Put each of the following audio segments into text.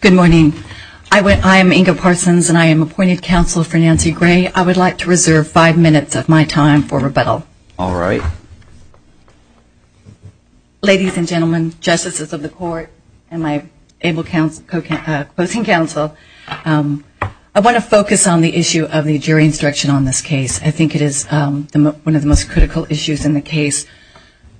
Good morning. I am Inga Parsons and I am appointed counsel for Nancy Gray. I would like to reserve five minutes of my time for rebuttal. Alright. Ladies and gentlemen, justices of the court, and my abled co-counsel, I want to focus on the issue of the jury instruction on this case. I think it is one of the most critical issues in the case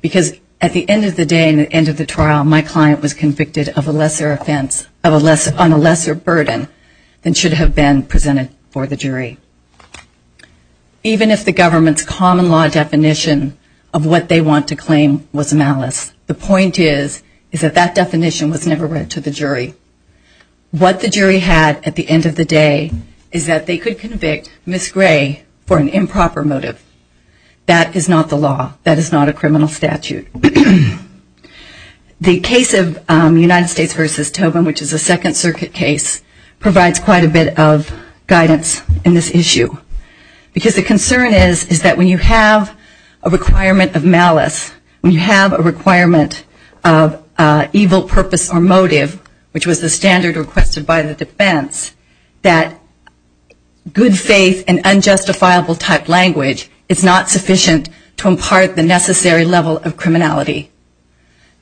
because at the end of the day and the end of the trial, my client was convicted on a lesser burden than should have been presented for the jury. Even if the government's common law definition of what they want to claim was malice, the point is that that definition was never read to the jury. What the jury had at the end of the day is that they could convict Ms. Gray for an improper motive. That is not the law. That is not a criminal statute. The case of United States v. Tobin, which is a Second Circuit case, provides quite a bit of guidance in this issue. Because the concern is that when you have a requirement of malice, when you have a requirement of evil purpose or motive, which was the standard requested by the defense, that good faith and unjustifiable type language is not sufficient to impart the necessary level of criminality.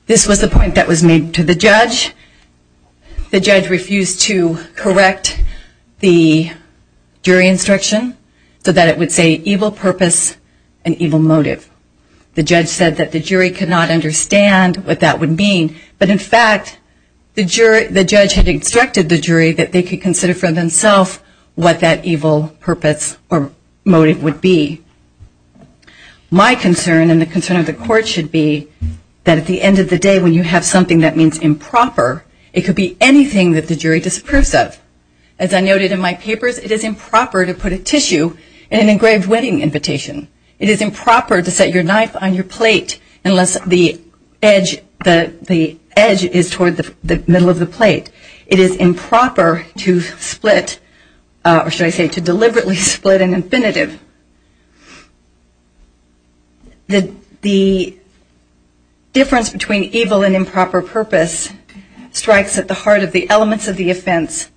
This was the point that was made to the judge. The judge refused to correct the jury instruction so that it would say evil purpose and evil motive. The judge said that the jury could not understand what that would mean. But in fact, the judge had instructed the jury that they could consider for themselves what that evil purpose or motive would be. My concern and the concern of the court should be that at the end of the day when you have something that means improper, it could be anything that the jury disapproves of. As I noted in my papers, it is improper to put a tissue in an engraved wedding invitation. It is improper to set your knife on your plate unless the edge is toward the middle of the plate. The difference between evil and improper purpose strikes at the heart of the elements of the offense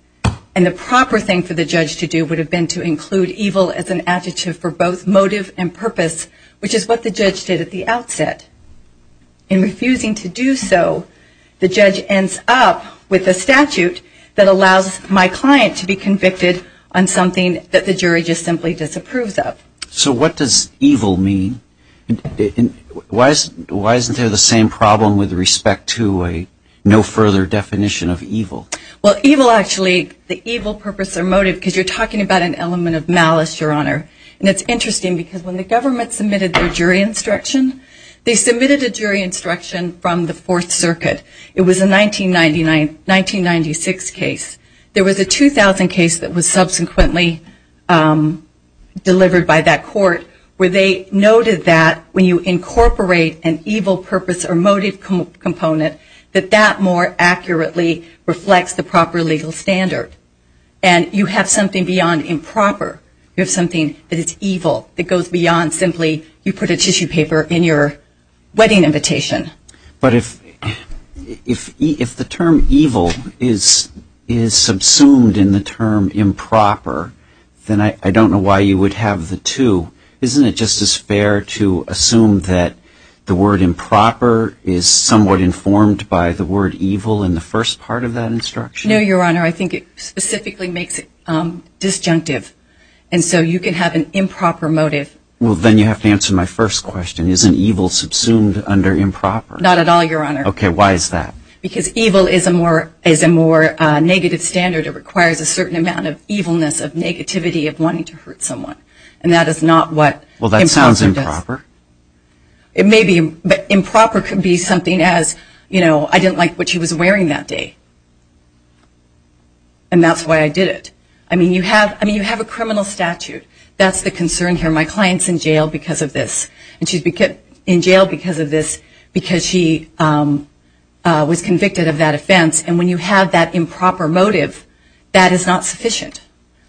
and the proper thing for the judge to do would have been to include evil as an adjective for both motive and purpose, which is what the judge did at the outset. In refusing to do so, the judge ends up with a statute that allows my client to be convicted on something that the jury just simply disapproves of. So what does evil mean? Why isn't there the same problem with respect to a no further definition of evil? Well, evil actually, the evil purpose or motive, because you're talking about an element of malice, Your Honor. And it's interesting because when the government submitted their jury instruction, they submitted a jury instruction from the Fourth Circuit. It was a 1999, 1996 case. There was a 2000 case that was subsequently delivered by that court where they noted that when you incorporate an evil purpose or motive component, that that more accurately reflects the proper legal standard. And you have something beyond improper. You have something that is evil that goes beyond simply you put a tissue paper in your wedding invitation. But if the term evil is subsumed in the term improper, then I don't know why you would have the two. Isn't it just as fair to assume that the word improper is somewhat informed by the word evil in the first part of that instruction? No, Your Honor. I think it specifically makes it disjunctive. And so you can have an improper motive. Well, then you have to answer my first question. Isn't evil subsumed under improper? Not at all, Your Honor. Okay. Why is that? Because evil is a more negative standard. It requires a certain amount of evilness, of negativity, of wanting to hurt someone. And that is not what improper does. Well, that sounds improper. It may be, but improper could be something as, you know, I didn't like what she was wearing that day. And that's why I did it. I mean, you have a criminal statute. That's the concern here. My client's in jail because of this. And she's in jail because of this, because she was convicted of that offense. And when you have that improper motive, that is not sufficient.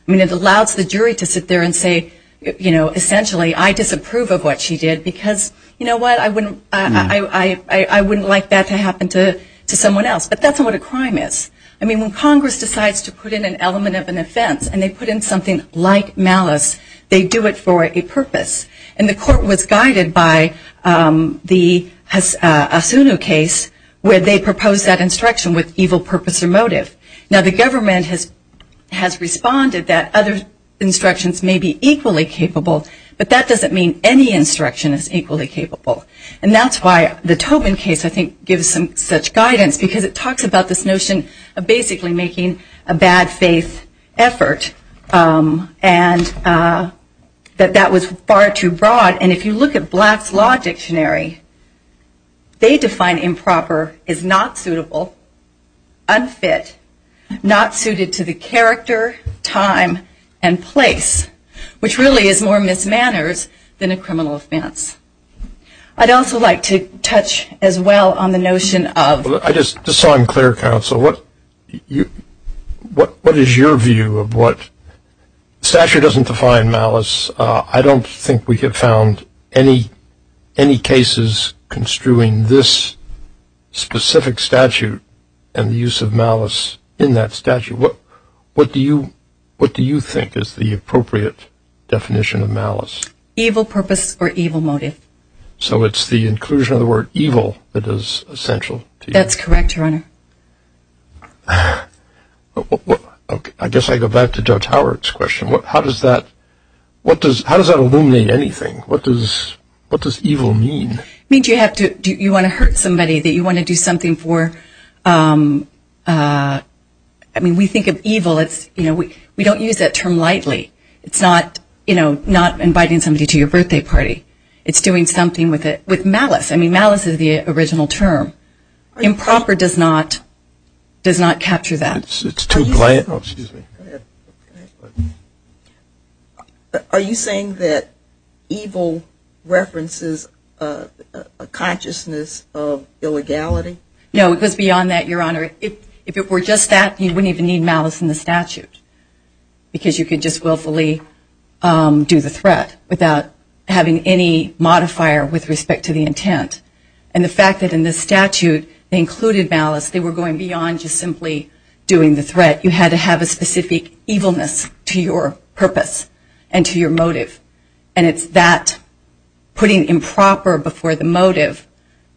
I mean, it allows the jury to sit there and say, you know, essentially, I disapprove of what she did because, you know what, I wouldn't like that to happen to someone else. But that's not what a crime is. I mean, when Congress decides to put in an element of an offense and they put in something like malice, they do it for a purpose. And the court was guided by the Asuno case where they proposed that instruction with evil purpose or motive. Now, the government has responded that other instructions may be equally capable, but that doesn't mean any instruction is equally capable. And that's why the Tobin case, I think, gives some such guidance because it talks about this notion of basically making a bad faith effort. And that that was far too broad. And if you look at Black's Law Dictionary, they define improper as not suitable, unfit, not suited to the character, time, and place, which really is more mismanners than a criminal offense. I'd also like to touch as well on the notion of Well, I just saw in clear counsel, what is your view of what statute doesn't define malice? I don't think we have found any cases construing this specific statute and the use of malice in that statute. What do you think is the appropriate definition of malice? Evil purpose or evil motive. So it's the inclusion of the word evil that is essential to you? That's correct, Your Honor. I guess I go back to Judge Howard's question. How does that illuminate anything? What does evil mean? It means you want to hurt somebody, that you want to do something for, I mean, we think of evil, we don't use that term lightly. It's not, you know, not inviting somebody to your birthday party. It's doing something with it, with malice. I mean, malice is the original term. Improper does not capture that. Are you saying that evil references a consciousness of illegality? No, it goes beyond that, Your Honor. If it were just that, you wouldn't even need malice in the statute because you could just willfully do the threat without having any modifier with respect to the intent. And the fact that in this statute, they included malice, they were going beyond just simply doing the threat. You had to have a specific evilness to your purpose and to your motive. And it's that putting improper before the motive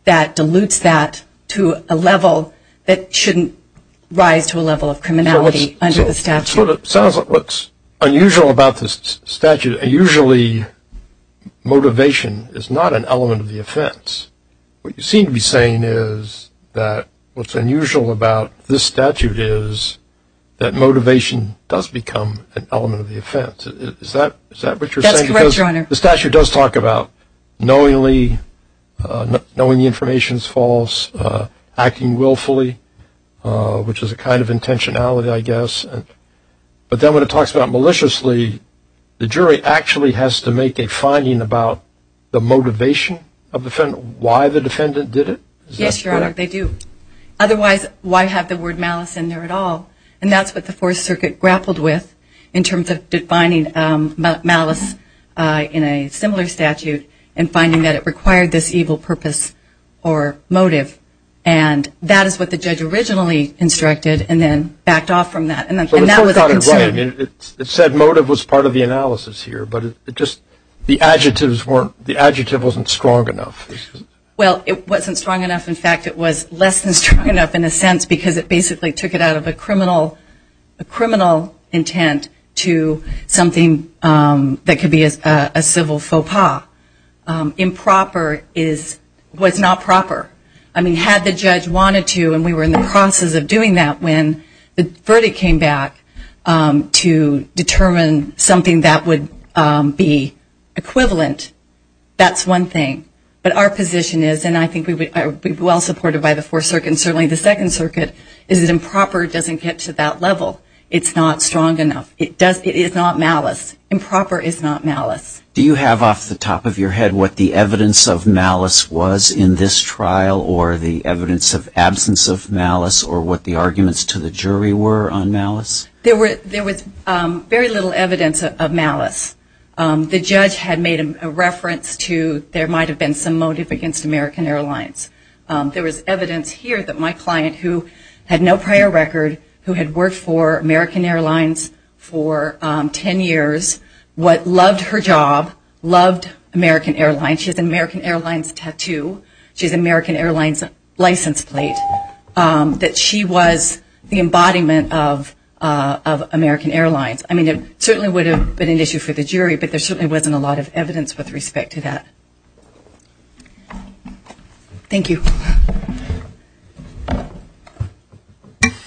that dilutes that to a level that shouldn't rise to a level of criminality under the statute. It sounds like what's unusual about this statute, usually motivation is not an element of the offense. What you seem to be saying is that what's unusual about this statute is that motivation does become an element of the offense. Is that what you're saying? That's correct, Your Honor. The statute does talk about knowingly, knowing the information is false, acting willfully, which is a kind of intentionality, I guess. But then when it talks about maliciously, the jury actually has to make a finding about the motivation of the defendant, why the defendant did it. Yes, Your Honor, they do. Otherwise, why have the word malice in there at all? And that's what the Fourth Circuit grappled with in terms of defining malice in a similar statute and finding that it required this evil purpose or motive. And that is what the judge originally instructed and then backed off from that. So the court thought it right. It said motive was part of the analysis here, but just the adjectives weren't, the adjective wasn't strong enough. Well it wasn't strong enough. In fact, it was less than strong enough in a sense because it basically took it out of a criminal intent to something that could be a civil faux pas. Improper was not proper. I mean, had the judge wanted to and we were in the process of doing that when the verdict came back to determine something that would be equivalent, that's one thing. But our position is, and I think we would be well supported by the Fourth Circuit and certainly the Second Circuit, is that improper doesn't get to that level. It's not strong enough. It is not malice. Improper is not malice. Do you have off the top of your head what the evidence of malice was in this trial or the evidence of absence of malice or what the arguments to the jury were on malice? There was very little evidence of malice. The judge had made a reference to there might have been some motive against American Airlines. There was evidence here that my client who had no prior record, who had worked for American Airlines for ten years, what loved her job, loved American Airlines. She has an American Airlines tattoo. She has an American Airlines license plate. That she was the embodiment of American Airlines. I mean, it certainly would have been an issue for the jury, but there certainly wasn't a lot of evidence with respect to that. Thank you. Good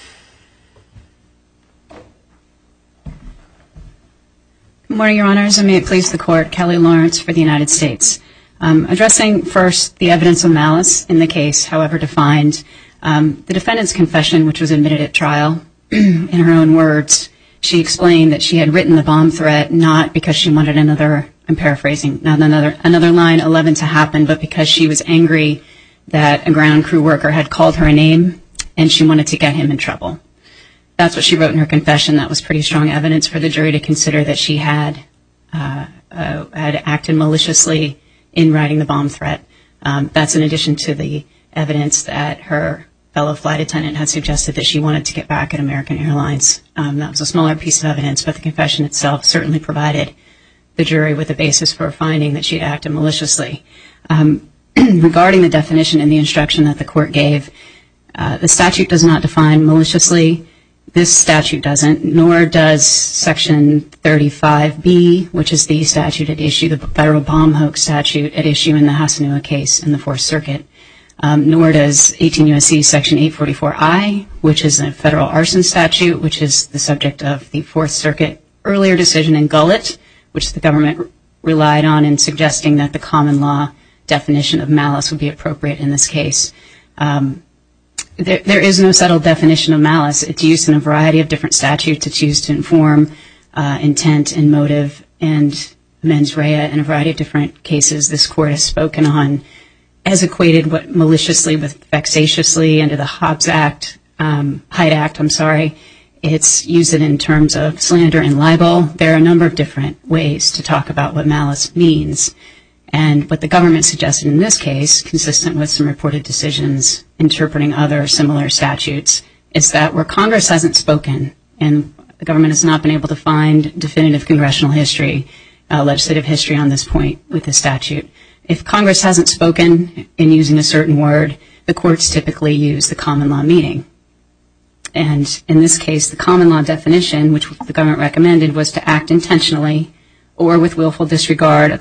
morning, Your Honors, and may it please the Court. I'm here to speak on behalf of Kelly Lawrence for the United States. Addressing first the evidence of malice in the case, however defined, the defendant's confession, which was admitted at trial, in her own words, she explained that she had written the bomb threat not because she wanted another, I'm paraphrasing, not another line 11 to happen, but because she was angry that a ground crew worker had called her a name and she wanted to get him in trouble. That's what she wrote in her confession. That was pretty strong evidence for the jury to consider that she had acted maliciously in writing the bomb threat. That's in addition to the evidence that her fellow flight attendant had suggested that she wanted to get back at American Airlines. That was a smaller piece of evidence, but the confession itself certainly provided the jury with a basis for finding that she had acted maliciously. Regarding the definition and the instruction that the Court gave, the statute does not define maliciously. This statute doesn't, nor does Section 35B, which is the statute at issue, the Federal Bomb Hoax Statute at issue in the Hasanoa case in the Fourth Circuit. Nor does 18 U.S.C. Section 844I, which is a Federal Arson Statute, which is the subject of the Fourth Circuit earlier decision in Gullet, which the government relied on in suggesting that the common law definition of malice would be appropriate in this case. There is no settled definition of malice. It's used in a variety of different statutes. It's used to inform intent and motive and mens rea. In a variety of different cases this Court has spoken on, has equated maliciously with vexatiously under the Hobbs Act, Hyde Act, I'm sorry. It's used in terms of slander and libel. There are a number of different ways to talk about what malice means. And what the government suggested in this case, consistent with some reported decisions interpreting other similar statutes, is that where Congress hasn't spoken, and the government has not been able to find definitive congressional history, legislative history on this point with this statute, if Congress hasn't spoken in using a certain word, the courts typically use the common law meaning. And in this case, the common law definition, which the government recommended, was to act intentionally or with malicious intent.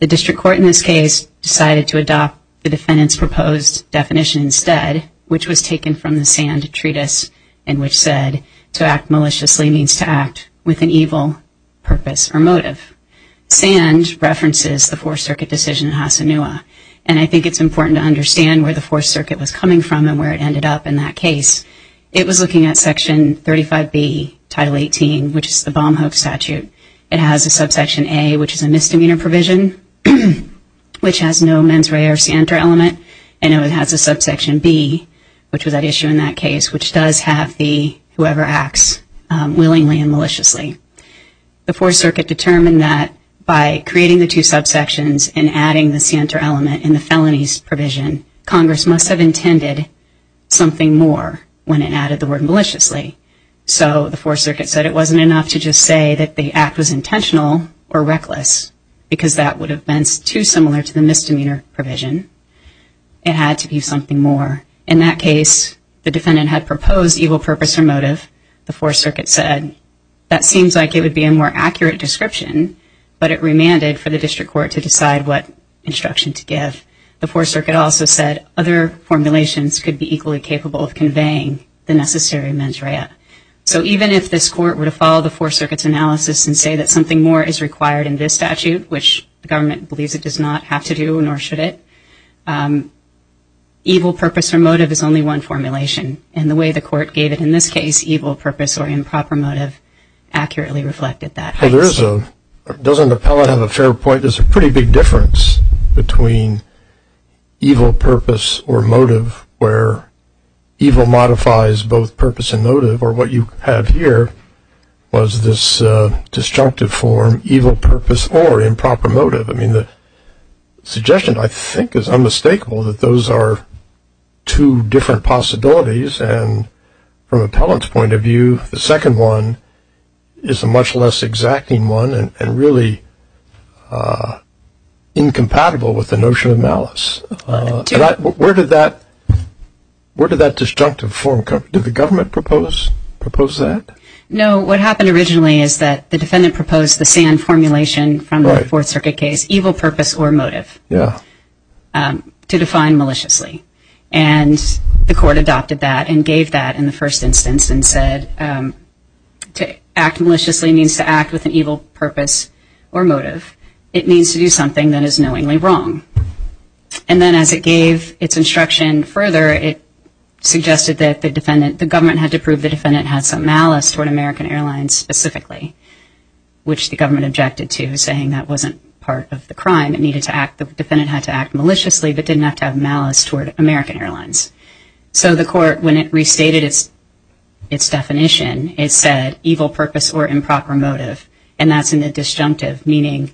The district court in this case decided to adopt the defendant's proposed definition instead, which was taken from the Sand Treatise, and which said to act maliciously means to act with an evil purpose or motive. Sand references the Fourth Circuit decision in Hassanoua. And I think it's important to understand where the Fourth Circuit was coming from and where it ended up in that case. It was looking at Section 35B, Title 18, which is the bomb hoax statute. It has a subsection A, which is a misdemeanor provision, which has no mens rea or scienter element. And it has a subsection B, which was at issue in that case, which does have the whoever acts willingly and maliciously. The Fourth Circuit determined that by creating the two subsections and adding the scienter element in the felonies provision, Congress must have intended something more when it added the word maliciously. So the Fourth Circuit said it wasn't enough to just say that the act was intentional or reckless, because that would have been too similar to the misdemeanor provision. It had to be something more. In that case, the defendant had proposed evil purpose or motive. The Fourth Circuit said that seems like it would be a more accurate description, but it remanded for the district court to decide what instruction to give. The Fourth Circuit also said other formulations could be equally capable of conveying the necessary mens rea. So even if this court were to follow the Fourth Circuit's analysis and say that something more is required in this statute, which the government believes it does not have to do, nor should it, evil purpose or motive is only one formulation. And the way the court gave it in this case, evil purpose or improper motive, accurately reflected that. Well, doesn't the appellant have a fair point? There's a pretty big difference between evil purpose or motive, where evil modifies both purpose and motive, or what you have here was this destructive form, evil purpose or improper motive. I mean, the suggestion I think is unmistakable that those are two different possibilities. And from appellant's point of view, the second one is a much less exacting one and really incompatible with the notion of malice. Where did that destructive form come from? Did the government propose that? No, what happened originally is that the defendant proposed the SAN formulation from the Fourth Circuit case, evil purpose or motive, to define maliciously. And the court adopted that and said to act maliciously means to act with an evil purpose or motive. It means to do something that is knowingly wrong. And then as it gave its instruction further, it suggested that the defendant, the government had to prove the defendant had some malice toward American Airlines specifically, which the government objected to, saying that wasn't part of the crime. The defendant had to act maliciously, but didn't have to have malice toward American Airlines. So the court, when it restated its definition, it said evil purpose or improper motive. And that's in the disjunctive, meaning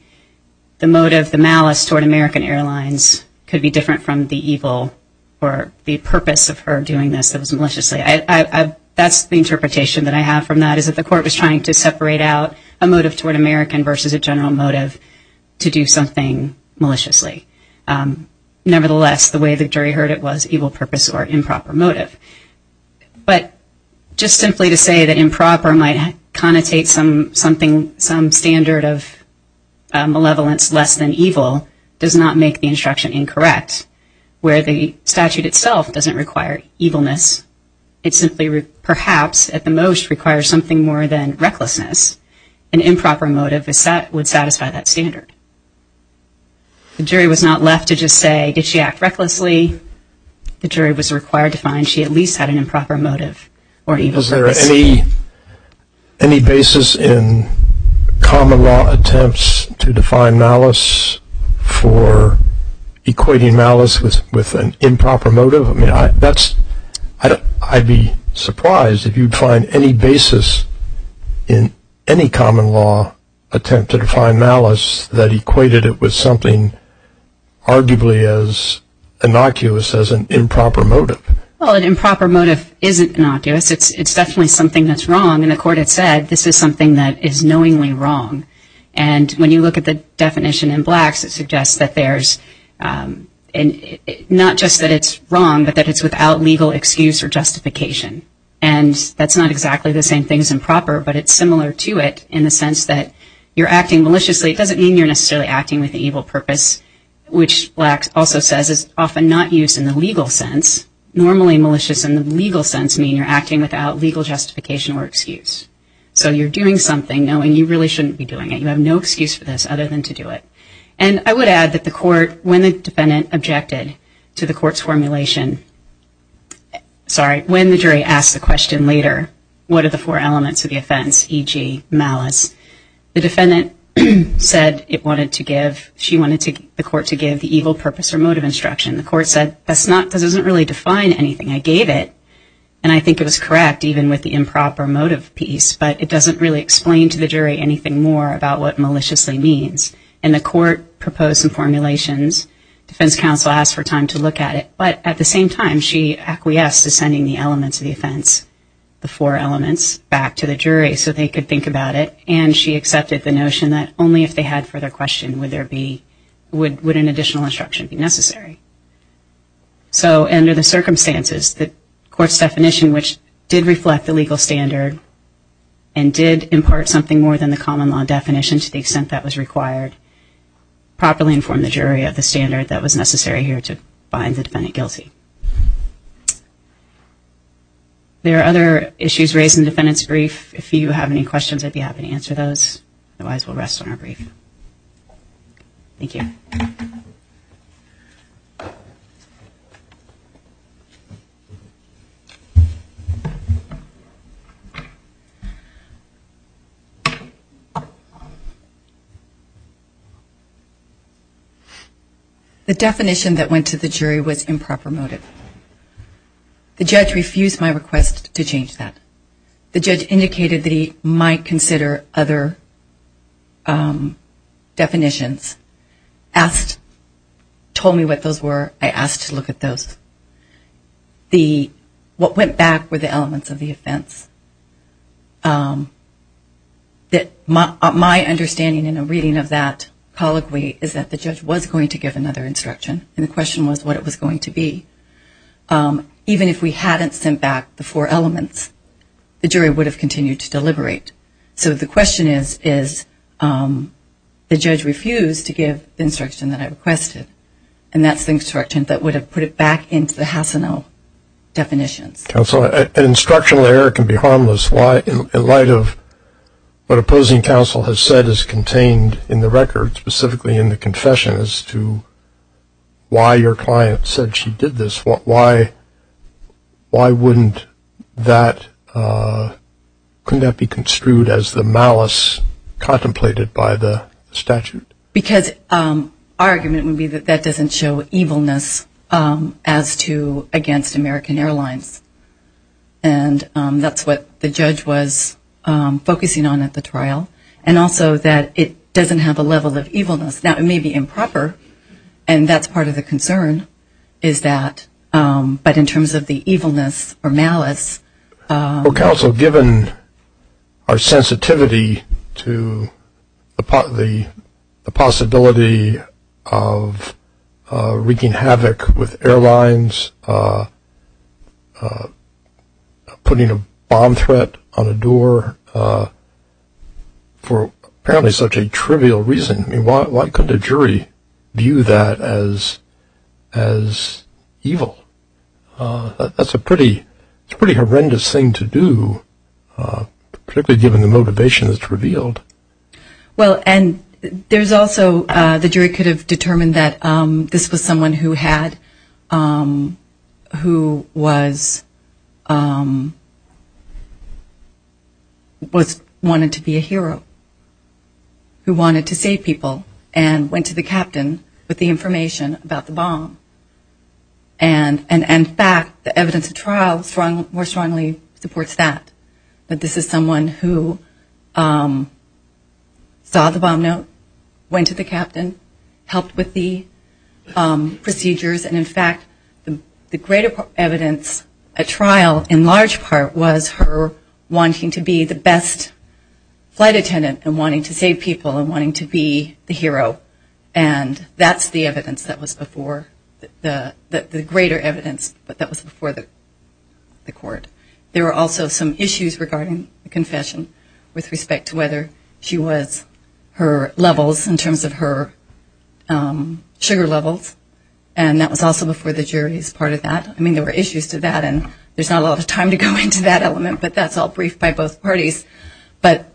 the motive, the malice toward American Airlines could be different from the evil or the purpose of her doing this that was maliciously. That's the interpretation that I have from that, is that the court was trying to separate out a motive toward American versus a general motive to do something maliciously. Nevertheless, the way the jury heard it was evil purpose or improper motive. But just simply to say that improper might connotate some standard of malevolence less than evil does not make the instruction incorrect, where the statute itself doesn't require evilness. It simply perhaps at the most requires something more than recklessness. An improper motive would satisfy that standard. The jury was not left to just say, did she act recklessly? The jury was required to find she at least had an improper motive or evil purpose. Is there any basis in common law attempts to define malice for equating malice with an improper motive? I mean, that's, I'd be surprised if you'd find any basis in any common law attempt to define malice that equated it with something arguably as innocuous as an improper motive. Well, an improper motive isn't innocuous. It's definitely something that's wrong. And the court had said, this is something that is knowingly wrong. And when you look at the definition in Blacks, it suggests that there's not just that it's wrong, but that it's without legal excuse or justification. And that's not exactly the sense that you're acting maliciously. It doesn't mean you're necessarily acting with an evil purpose, which Blacks also says is often not used in the legal sense. Normally malicious in the legal sense mean you're acting without legal justification or excuse. So you're doing something knowing you really shouldn't be doing it. You have no excuse for this other than to do it. And I would add that the court, when the defendant objected to the court's formulation, sorry, when the jury asked the question later, what are the four elements of the offense, e.g. malice, the defendant said it wanted to give, she wanted the court to give the evil purpose or motive instruction. The court said, that doesn't really define anything. I gave it. And I think it was correct, even with the improper motive piece. But it doesn't really explain to the jury anything more about what maliciously means. And the court proposed some formulations. Defense counsel asked for time to look at it. But at the same time, she acquiesced to sending the elements of the offense, the four elements, back to the jury so they could think about it. And she accepted the notion that only if they had further question would there be, would an additional instruction be necessary. So under the circumstances, the court's definition, which did reflect the legal standard and did impart something more than the common law definition to the extent that was required, properly informed the jury of the standard that was necessary here to find the defendant guilty. There are other issues raised in the defendant's brief. If you have any questions, I'd be happy to answer those. Otherwise, we'll rest on our brief. Thank you. The definition that went to the jury was improper motive. The judge refused my request to change that. The judge indicated that he might consider other definitions, asked, told me what those were. I asked to look at those. What went back were the elements of the offense. My understanding in a reading of that colloquy is that the judge was going to give another instruction. And the question was what it was going to be. Even if we hadn't sent back the four elements, the jury would have continued to deliberate. So the question is, is the judge refused to give the instruction that I requested. And that's the instruction that would have put it back into the Hassenel definitions. Counsel, an instructional error can be harmless. Why, in light of what opposing counsel has said is contained in the record, specifically in the confession as to why your client said she did this, why wouldn't that be construed as the malice contemplated by the statute? Because our argument would be that that doesn't show evilness as to against American Airlines. And that's what the judge was focusing on at the trial. And also that it doesn't have a level of evilness. Now, it may be improper, and that's part of the concern, is that, but in terms of the evilness or malice. Counsel, given our sensitivity to the possibility of wreaking havoc with airlines, the possibility of putting a bomb threat on a door, for apparently such a trivial reason, why couldn't a jury view that as evil? That's a pretty horrendous thing to do, particularly given the motivation that's revealed. Well and there's also, the jury could have determined that this was someone who had, who was, wanted to be a hero, who wanted to save people, and went to the captain with the information about the bomb. And in fact, the evidence of trial more strongly supports that, that this is someone who saw the bomb note, went to the captain, helped with the investigation. In fact, the greater evidence at trial, in large part, was her wanting to be the best flight attendant, and wanting to save people, and wanting to be the hero. And that's the evidence that was before, the greater evidence that was before the court. There were also some issues regarding the confession with respect to whether she was her levels, in terms of her sugar levels, and that was also before the jury's part of that. I mean, there were issues to that, and there's not a lot of time to go into that element, but that's all briefed by both parties. But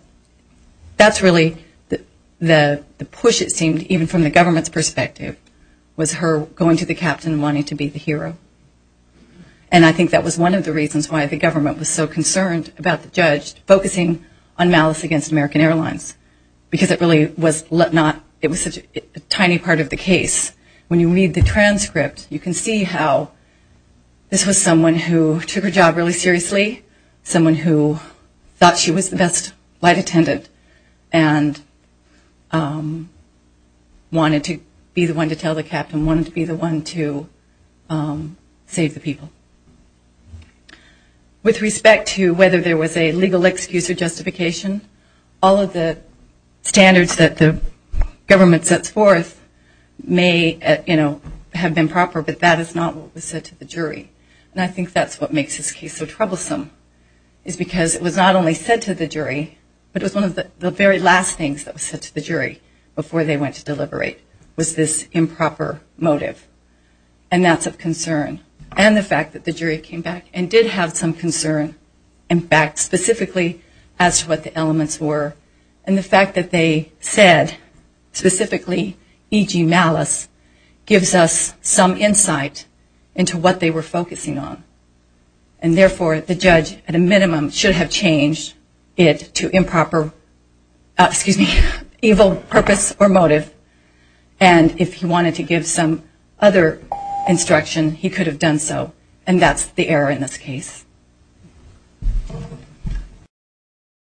that's really the push, it seemed, even from the government's perspective, was her going to the captain and wanting to be the hero. And I think that was one of the reasons why the government was so concerned about the judge focusing on malice against American Airlines, because it really was not, it was such a tiny part of the case. When you read the transcript, you can see how this was someone who took her job really seriously, someone who thought she was the best flight attendant, and wanted to be the one to tell the captain, wanted to be the one to save the people. With respect to whether there was a legal excuse or justification, all of the standards that the government sets forth may have been proper, but that is not what was said to the jury. And I think that's what makes this case so troublesome, is because it was not only said to the jury, but it was one of the very last things that was said to the jury before they went to deliberate, was this improper motive. And that's of concern. And the fact that the jury came back and did have some concern, in fact, specifically as to what the elements were, and the fact that they said, specifically, e.g. malice, gives us some insight into what they were focusing on. And therefore, the judge, at a minimum, should have changed it to improper, excuse me, evil purpose or motive. And if he wanted to give some other instruction, he could have done so. And that's the error in this case.